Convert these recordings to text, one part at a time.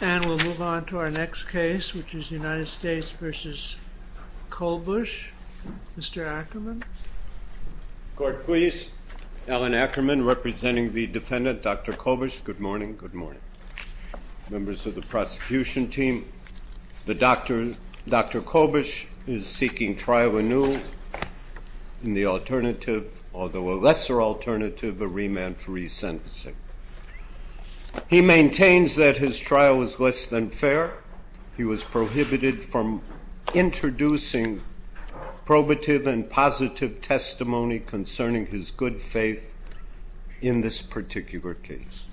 And we'll move on to our next case, which is United States v. Kolbusz. Mr. Ackerman. Court, please. Alan Ackerman, representing the defendant, Dr. Kolbusz. Good morning. Good morning. Members of the prosecution team, Dr. Kolbusz is seeking trial anew in the alternative, although a lesser alternative, of remand for resentencing. He maintains that his trial was less than fair. He was prohibited from introducing probative and positive testimony concerning his good faith in this particular case.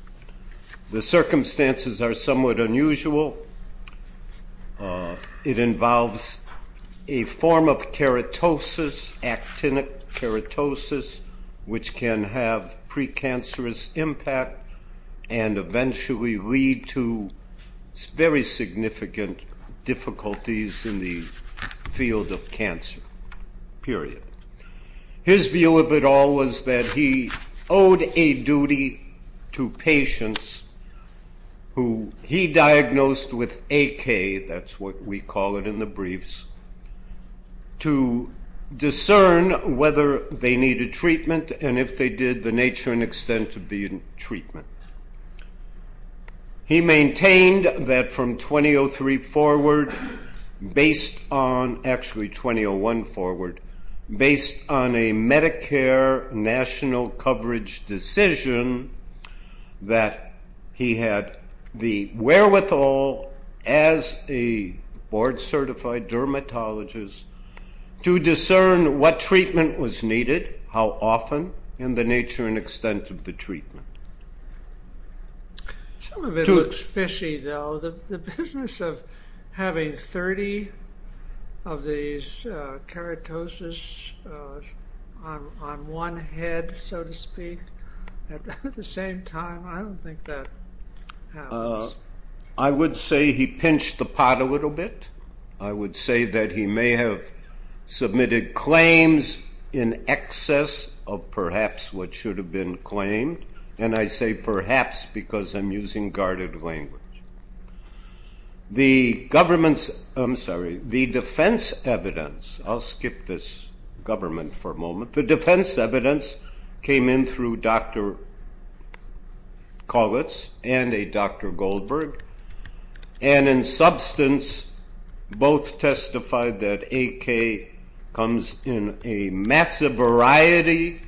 The circumstances are somewhat unusual. It involves a form of keratosis, actinic keratosis, which can have precancerous impact and eventually lead to very significant difficulties in the field of cancer, period. His view of it all was that he owed a duty to patients who he diagnosed with AK, that's what we call it in the briefs, to discern whether they needed treatment and if they did, the nature and extent of the treatment. He maintained that from 2003 forward, based on, actually 2001 forward, based on a Medicare national coverage decision, that he had the wherewithal as a board certified dermatologist to discern what treatment was needed, how often, and the nature and extent of the treatment. Some of it looks fishy, though. The business of having 30 of these keratosis on one head, so to speak, at the same time, I don't think that happens. I would say he pinched the pot a little bit. I would say that he may have submitted claims in excess of perhaps what should have been claimed, and I say perhaps because I'm using guarded language. The defense evidence, I'll skip this government for a moment, the defense evidence came in through Dr. Kollitz and a Dr. Goldberg, and in substance, both testified that AK comes in a massive variety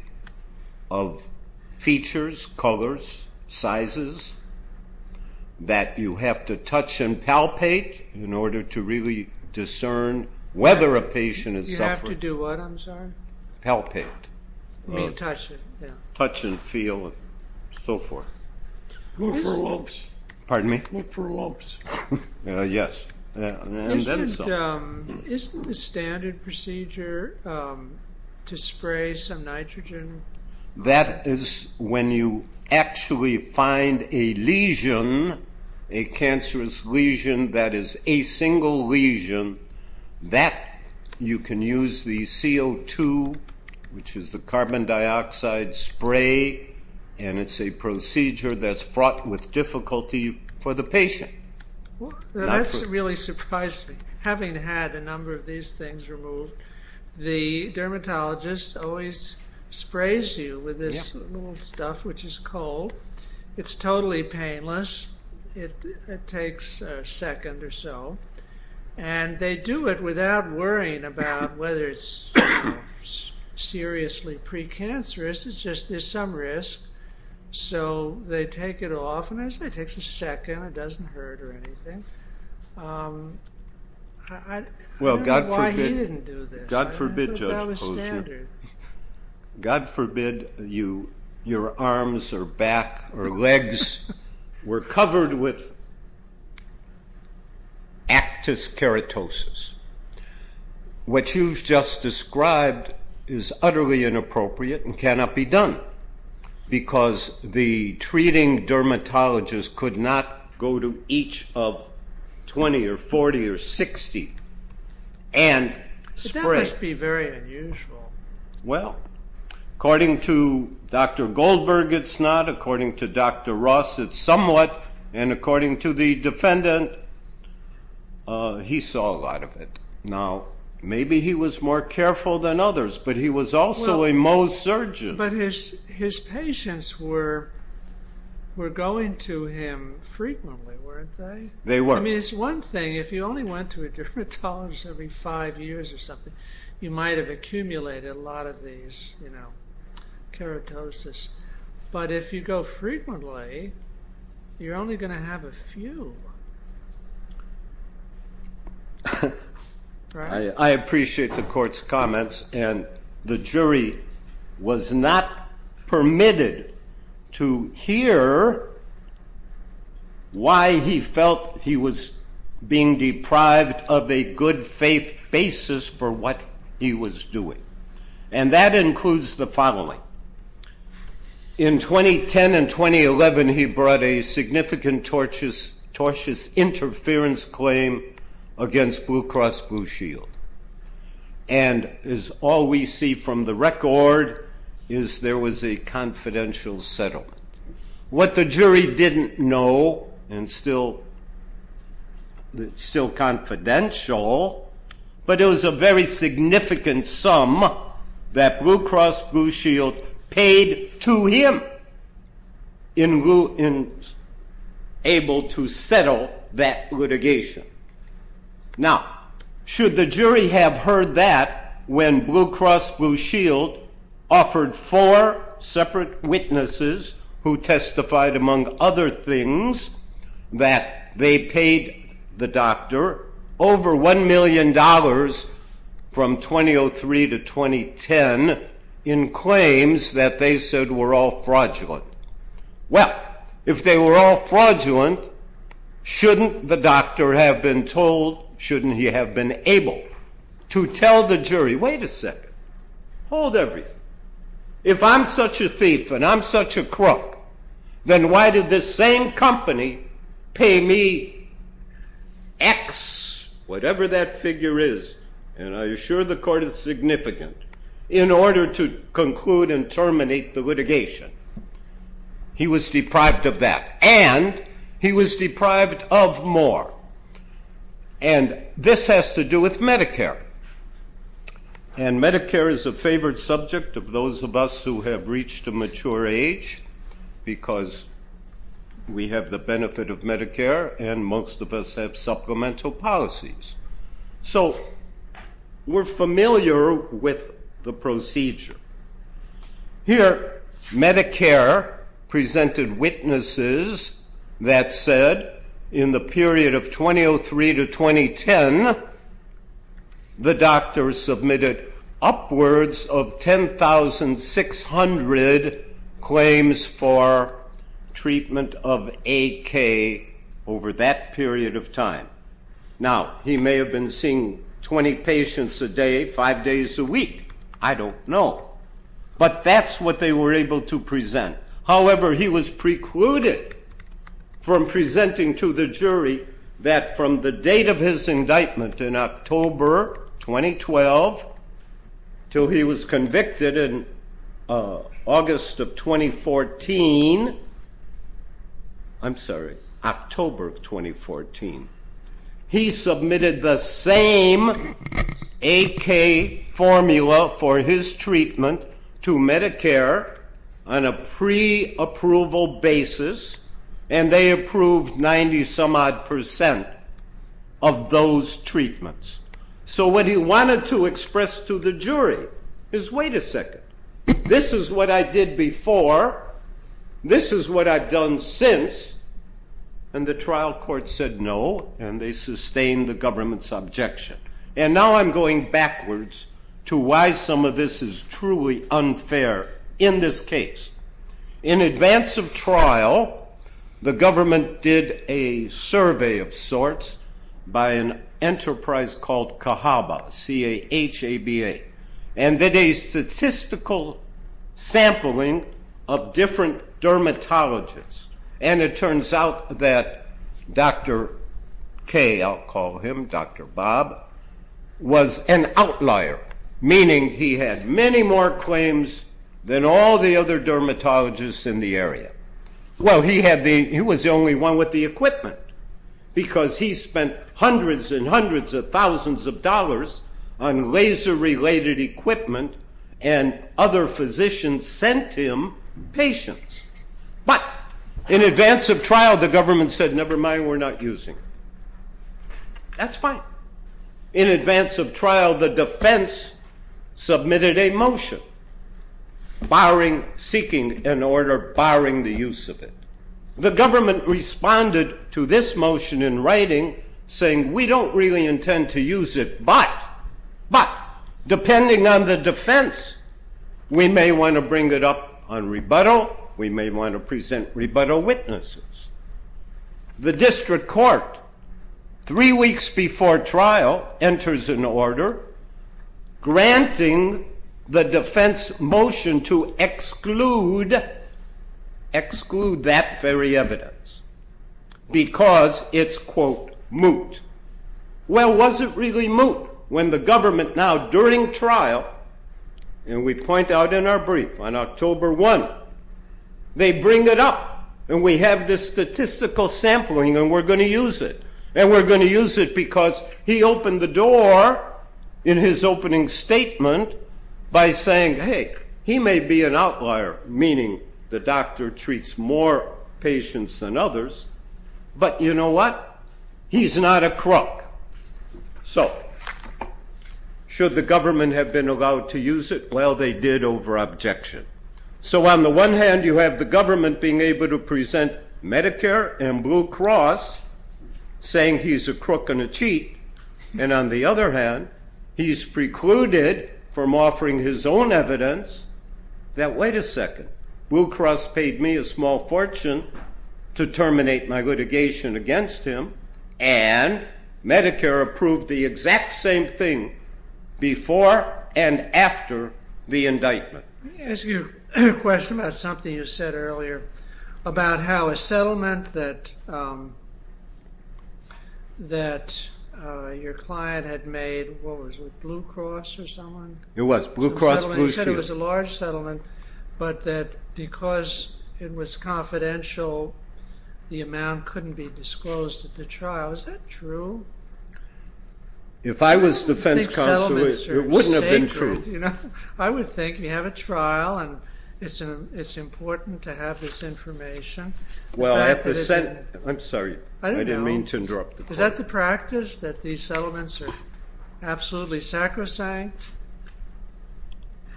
of features, colors, sizes, that you have to touch and palpate in order to really discern whether a patient is suffering. You have to do what, I'm sorry? Palpate. You mean touch it, yeah. Touch and feel and so forth. Look for lumps. Pardon me? Look for lumps. Yes. Isn't the standard procedure to spray some nitrogen? That is when you actually find a lesion, a cancerous lesion that is a single lesion, that you can use the CO2, which is the carbon dioxide spray, and it's a procedure that's fraught with difficulty for the patient. That's really surprising. Having had a number of these things removed, the dermatologist always sprays you with this little stuff, which is coal. It's totally painless. It takes a second or so, and they do it without worrying about whether it's seriously precancerous. It's just there's some risk, so they take it off, and as I said, it takes a second. It doesn't hurt or anything. I don't know why he didn't do this. God forbid, Judge Posner. That was standard. God forbid your arms or back or legs were covered with actus keratosis. What you've just described is utterly inappropriate and cannot be done because the treating dermatologist could not go to each of 20 or 40 or 60 and spray. That must be very unusual. Well, according to Dr. Goldberg, it's not. According to Dr. Ross, it's somewhat, and according to the defendant, he saw a lot of it. Now, maybe he was more careful than others, but he was also a Mohs surgeon. But his patients were going to him frequently, weren't they? They were. I mean, it's one thing. If you only went to a dermatologist every five years or something, you might have accumulated a lot of these keratosis. But if you go frequently, you're only going to have a few. I appreciate the court's comments. And the jury was not permitted to hear why he felt he was being deprived of a good faith basis for what he was doing. In 2010 and 2011, he brought a significant tortious interference claim against Blue Cross Blue Shield. And as all we see from the record is there was a confidential settlement. What the jury didn't know, and still confidential, but it was a very significant sum that Blue Cross Blue Shield paid to him in able to settle that litigation. Now, should the jury have heard that when Blue Cross Blue Shield offered four separate witnesses who testified, among other things, that they paid the doctor over $1 million from 2003 to 2010 in claims that they said were all fraudulent? Well, if they were all fraudulent, shouldn't the doctor have been told, shouldn't he have been able to tell the jury, wait a second, hold everything. If I'm such a thief and I'm such a crook, then why did this same company pay me X, whatever that figure is, and I assure the court it's significant, in order to conclude and terminate the litigation? He was deprived of that, and he was deprived of more. And this has to do with Medicare. And Medicare is a favored subject of those of us who have reached a mature age, because we have the benefit of Medicare and most of us have supplemental policies. So we're familiar with the procedure. Here, Medicare presented witnesses that said in the period of 2003 to 2010, the doctor submitted upwards of 10,600 claims for treatment of AK over that period of time. Now, he may have been seeing 20 patients a day, five days a week. I don't know. But that's what they were able to present. However, he was precluded from presenting to the jury that from the date of his indictment in October 2012 until he was convicted in August of 2014, I'm sorry, October of 2014, he submitted the same AK formula for his treatment to Medicare on a pre-approval basis, and they approved 90-some-odd percent of those treatments. So what he wanted to express to the jury is, wait a second. This is what I did before. This is what I've done since. And the trial court said no, and they sustained the government's objection. And now I'm going backwards to why some of this is truly unfair in this case. In advance of trial, the government did a survey of sorts by an enterprise called CAHABA, C-A-H-A-B-A, and did a statistical sampling of different dermatologists. And it turns out that Dr. K, I'll call him, Dr. Bob, was an outlier, meaning he had many more claims than all the other dermatologists in the area. Well, he was the only one with the equipment because he spent hundreds and hundreds of thousands of dollars on laser-related equipment, and other physicians sent him patients. But in advance of trial, the government said, never mind, we're not using it. That's fine. In advance of trial, the defense submitted a motion seeking an order barring the use of it. The government responded to this motion in writing, saying, we don't really intend to use it, but depending on the defense, we may want to bring it up on rebuttal. We may want to present rebuttal witnesses. The district court, three weeks before trial, enters an order granting the defense motion to exclude that very evidence because it's, quote, moot. Well, was it really moot when the government now, during trial, and we point out in our brief on October 1, they bring it up, and we have this statistical sampling, and we're going to use it. And we're going to use it because he opened the door in his opening statement by saying, hey, he may be an outlier, meaning the doctor treats more patients than others, but you know what? He's not a crook. So should the government have been allowed to use it? Well, they did over objection. So on the one hand, you have the government being able to present Medicare and Blue Cross, saying he's a crook and a cheat, and on the other hand, he's precluded from offering his own evidence that, wait a second, Blue Cross paid me a small fortune to terminate my litigation against him, and Medicare approved the exact same thing before and after the indictment. Let me ask you a question about something you said earlier about how a settlement that your client had made, what was it, with Blue Cross or someone? It was. Blue Cross, Blue Shield. You said it was a large settlement, but that because it was confidential, the amount couldn't be disclosed at the trial. Is that true? If I was defense counsel, it wouldn't have been true. I would think you have a trial, and it's important to have this information. I'm sorry. I didn't mean to interrupt. Is that the practice, that these settlements are absolutely sacrosanct?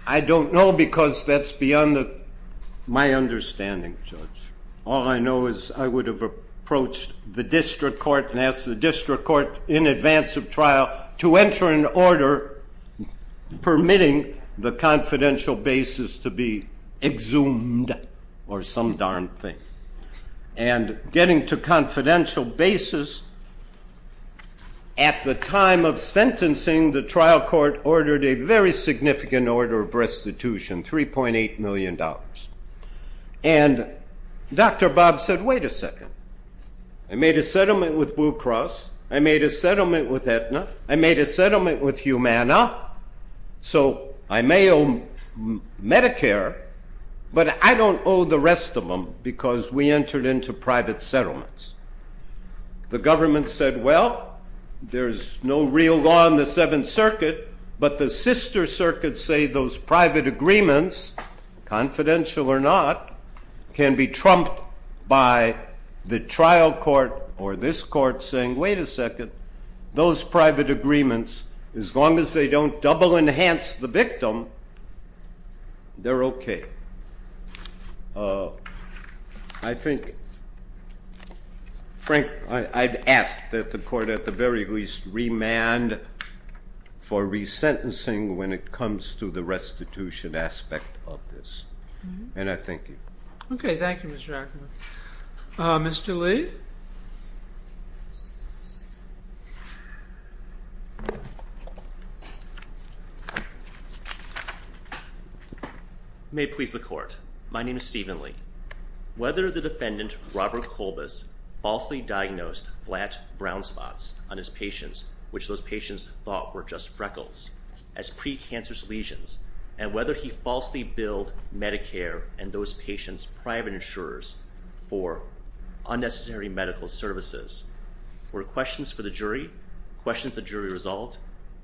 I don't know, because that's beyond my understanding, Judge. All I know is I would have approached the district court and asked the district court in advance of trial to enter an order permitting the confidential basis to be exhumed or some darn thing, and getting to confidential basis at the time of sentencing, the trial court ordered a very significant order of restitution, $3.8 million. And Dr. Bob said, wait a second. I made a settlement with Blue Cross. I made a settlement with Aetna. I made a settlement with Humana, so I may owe Medicare, but I don't owe the rest of them because we entered into private settlements. The government said, well, there's no real law in the Seventh Circuit, but the sister circuits say those private agreements, confidential or not, can be trumped by the trial court or this court saying, wait a second, those private agreements, as long as they don't double enhance the victim, they're okay. I think, Frank, I'd ask that the court at the very least remand for resentencing when it comes to the restitution aspect of this. And I thank you. Okay, thank you, Mr. Ackerman. Mr. Lee? Thank you. May it please the court. My name is Stephen Lee. Whether the defendant, Robert Colbus, falsely diagnosed flat brown spots on his patients, which those patients thought were just freckles, as pre-cancerous lesions, and whether he falsely billed Medicare and those patients' private insurers for unnecessary medical services were questions for the jury, questions the jury resolved,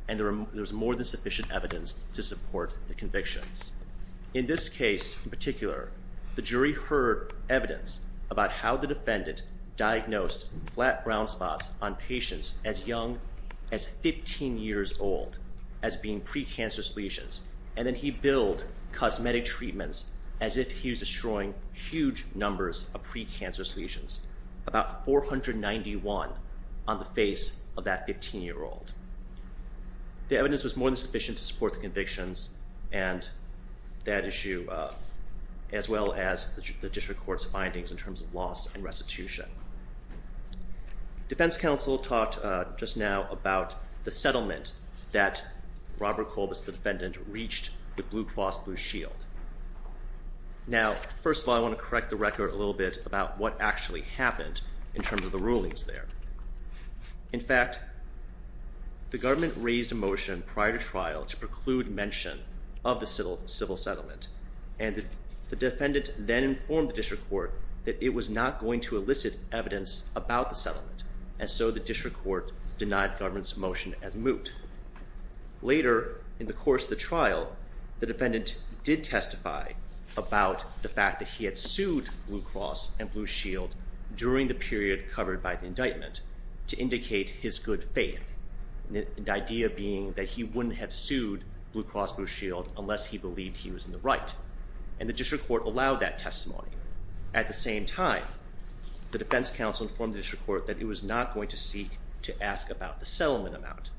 and there was more than sufficient evidence to support the convictions. In this case in particular, the jury heard evidence about how the defendant diagnosed flat brown spots on patients as young as 15 years old as being pre-cancerous lesions, and then he billed cosmetic treatments as if he was destroying huge numbers of pre-cancerous lesions, about 491 on the face of that 15-year-old. The evidence was more than sufficient to support the convictions and that issue, as well as the district court's findings in terms of loss and restitution. Defense counsel talked just now about the settlement that Robert Colbus, the defendant, reached with Blue Cross Blue Shield. Now, first of all, I want to correct the record a little bit about what actually happened in terms of the rulings there. In fact, the government raised a motion prior to trial to preclude mention of the civil settlement, and the defendant then informed the district court that it was not going to elicit evidence about the settlement, and so the district court denied the government's motion as moot. Later in the course of the trial, the defendant did testify about the fact that he had sued Blue Cross and Blue Shield during the period covered by the indictment to indicate his good faith, the idea being that he wouldn't have sued Blue Cross Blue Shield unless he believed he was in the right, and the district court allowed that testimony. At the same time, the defense counsel informed the district court that it was not going to seek to ask about the settlement amount,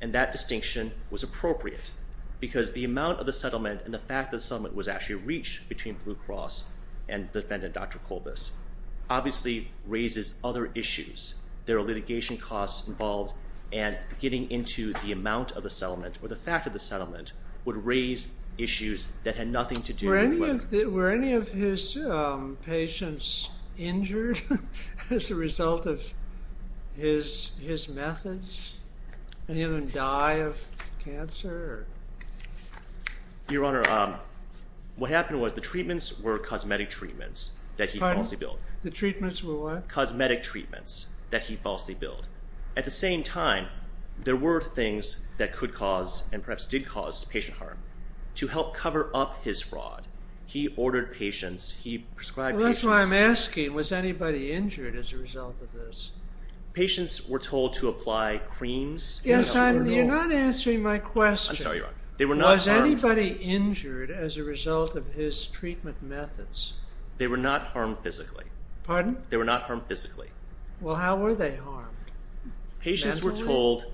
and that distinction was appropriate because the amount of the settlement and the fact that the settlement was actually reached between Blue Cross and the defendant, Dr. Colbus, obviously raises other issues. There are litigation costs involved, and getting into the amount of the settlement or the fact of the settlement would raise issues that had nothing to do with whether... Were any of his patients injured as a result of his methods? Did any of them die of cancer? Your Honor, what happened was the treatments were cosmetic treatments that he falsely billed. The treatments were what? Cosmetic treatments that he falsely billed. At the same time, there were things that could cause and perhaps did cause patient harm. To help cover up his fraud, he ordered patients... That's what I'm asking. Was anybody injured as a result of this? Patients were told to apply creams... You're not answering my question. I'm sorry, Your Honor. Was anybody injured as a result of his treatment methods? They were not harmed physically. Pardon? They were not harmed physically. Well, how were they harmed? Patients were told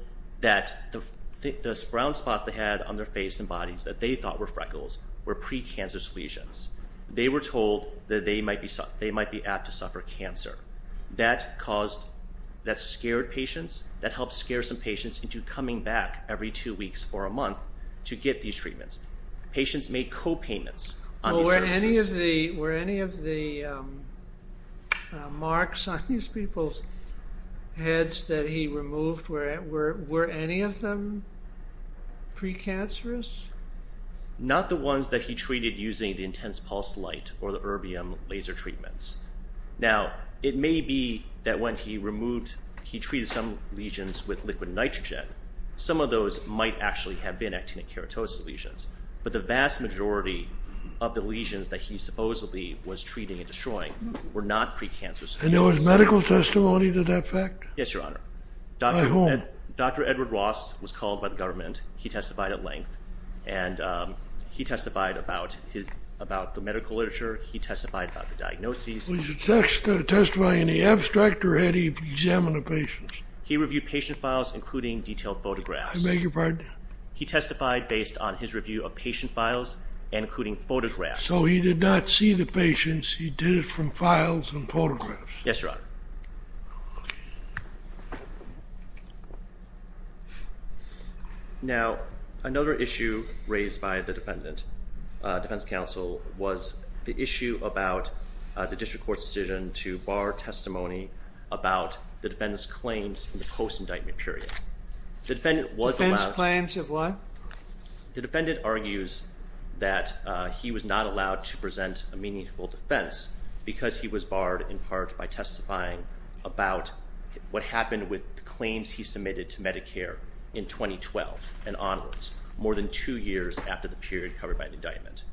that the brown spots they had on their face and bodies that they thought were freckles were precancerous lesions. They were told that they might be apt to suffer cancer. That scared patients. That helped scare some patients into coming back every two weeks or a month to get these treatments. Patients made co-payments on these services. Were any of the marks on these people's heads that he removed, were any of them precancerous? Not the ones that he treated using the intense pulse light or the erbium laser treatments. Now, it may be that when he removed... He treated some lesions with liquid nitrogen. Some of those might actually have been actinic keratosis lesions. But the vast majority of the lesions that he supposedly was treating and destroying were not precancerous. And there was medical testimony to that fact? Yes, Your Honor. By whom? Dr. Edward Ross was called by the government. He testified at length. And he testified about the medical literature. He testified about the diagnoses. Was he testifying in the abstract or had he examined the patients? He reviewed patient files, including detailed photographs. I beg your pardon? He testified based on his review of patient files, including photographs. So he did not see the patients. He did it from files and photographs? Yes, Your Honor. Okay. Now, another issue raised by the defendant, defense counsel, was the issue about the district court's decision to bar testimony about the defendant's claims in the post-indictment period. Defense claims of what? The defendant argues that he was not allowed to present a meaningful defense because he was barred in part by testifying about what happened with claims he submitted to Medicare in 2012 and onwards, more than two years after the period covered by indictment.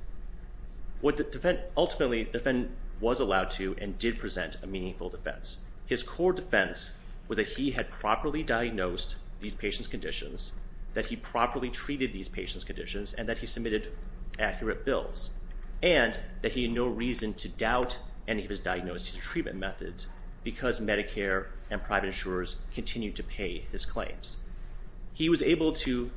Ultimately, the defendant was allowed to and did present a meaningful defense. His core defense was that he had properly diagnosed these patients' conditions, that he properly treated these patients' conditions, and that he submitted accurate bills, and that he had no reason to doubt any of his diagnosed treatment methods because Medicare and private insurers continued to pay his claims. He was able to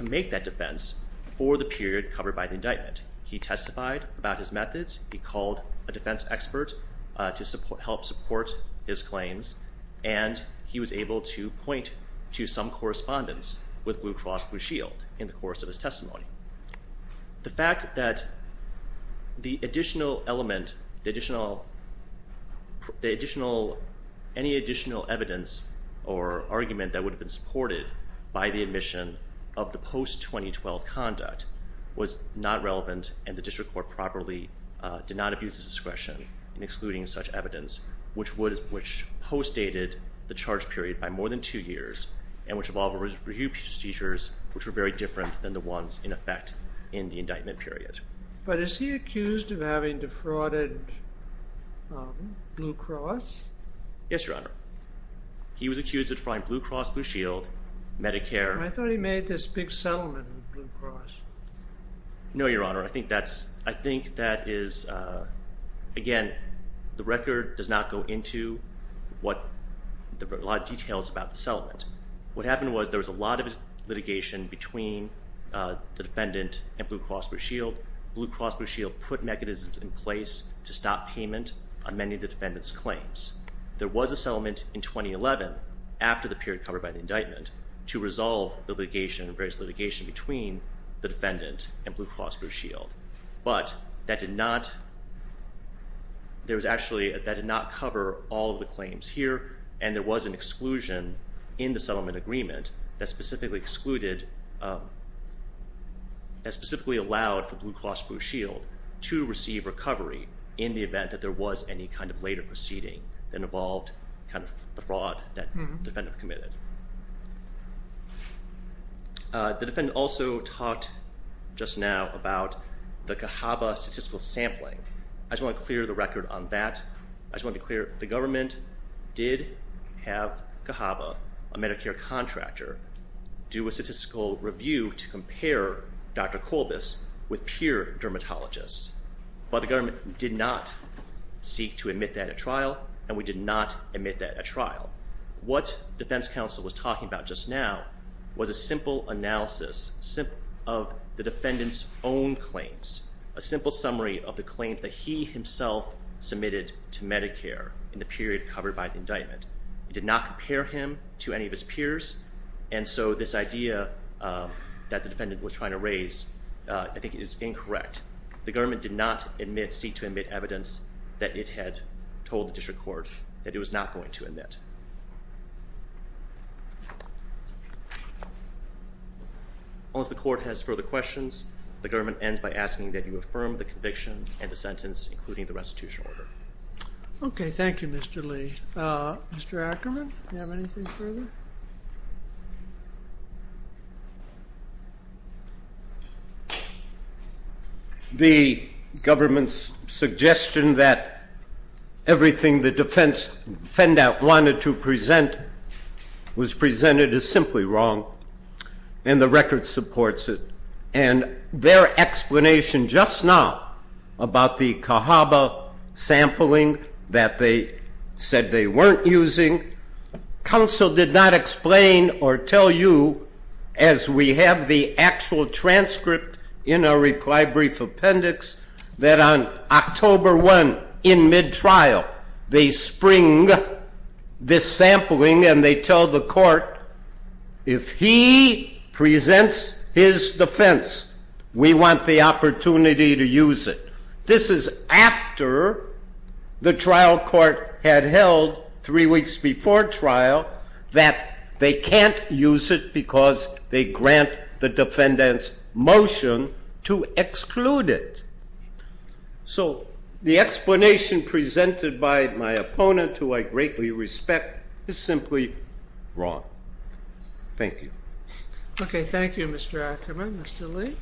make that defense for the period covered by the indictment. He testified about his methods. He called a defense expert to help support his claims, and he was able to point to some correspondence with Blue Cross Blue Shield in the course of his testimony. The fact that the additional element, any additional evidence or argument that would have been supported by the admission of the post-2012 conduct was not relevant, and the district court properly did not abuse its discretion in excluding such evidence, which postdated the charge period by more than two years and which involved review procedures which were very different than the ones in effect in the indictment period. But is he accused of having defrauded Blue Cross? Yes, Your Honor. He was accused of defrauding Blue Cross Blue Shield, Medicare. I thought he made this big settlement with Blue Cross. No, Your Honor. I think that is, again, the record does not go into a lot of details about the settlement. What happened was there was a lot of litigation between the defendant and Blue Cross Blue Shield. Blue Cross Blue Shield put mechanisms in place to stop payment on many of the defendant's claims. There was a settlement in 2011 after the period covered by the indictment to resolve the litigation and various litigation between the defendant and Blue Cross Blue Shield. But that did not cover all of the claims here, and there was an exclusion in the settlement agreement that specifically excluded, that specifically allowed for Blue Cross Blue Shield to receive recovery in the event that there was any kind of later proceeding that involved the fraud that the defendant committed. The defendant also talked just now about the CAHABA statistical sampling. I just want to clear the record on that. I just want to be clear. The government did have CAHABA, a Medicare contractor, do a statistical review to compare Dr. Kolbis with peer dermatologists. But the government did not seek to admit that at trial, and we did not admit that at trial. What defense counsel was talking about just now was a simple analysis of the defendant's own claims, a simple summary of the claims that he himself submitted to Medicare in the period covered by the indictment. It did not compare him to any of his peers, and so this idea that the defendant was trying to raise I think is incorrect. The government did not seek to admit evidence that it had told the district court that it was not going to admit. Unless the court has further questions, the government ends by asking that you affirm the conviction and the sentence, including the restitution order. Okay. Thank you, Mr. Lee. Mr. Ackerman, do you have anything further? The government's suggestion that everything the defendant wanted to present was presented is simply wrong, and the record supports it. And their explanation just now about the CAHABA sampling that they said they weren't using, counsel did not explain or tell you, as we have the actual transcript in our reply brief appendix, that on October 1, in mid-trial, they spring this sampling, and they tell the court, if he presents his defense, we want the opportunity to use it. This is after the trial court had held, three weeks before trial, that they can't use it because they grant the defendant's motion to exclude it. So the explanation presented by my opponent, who I greatly respect, is simply wrong. Thank you. Okay. Thank you, Mr. Ackerman. Mr. Lee?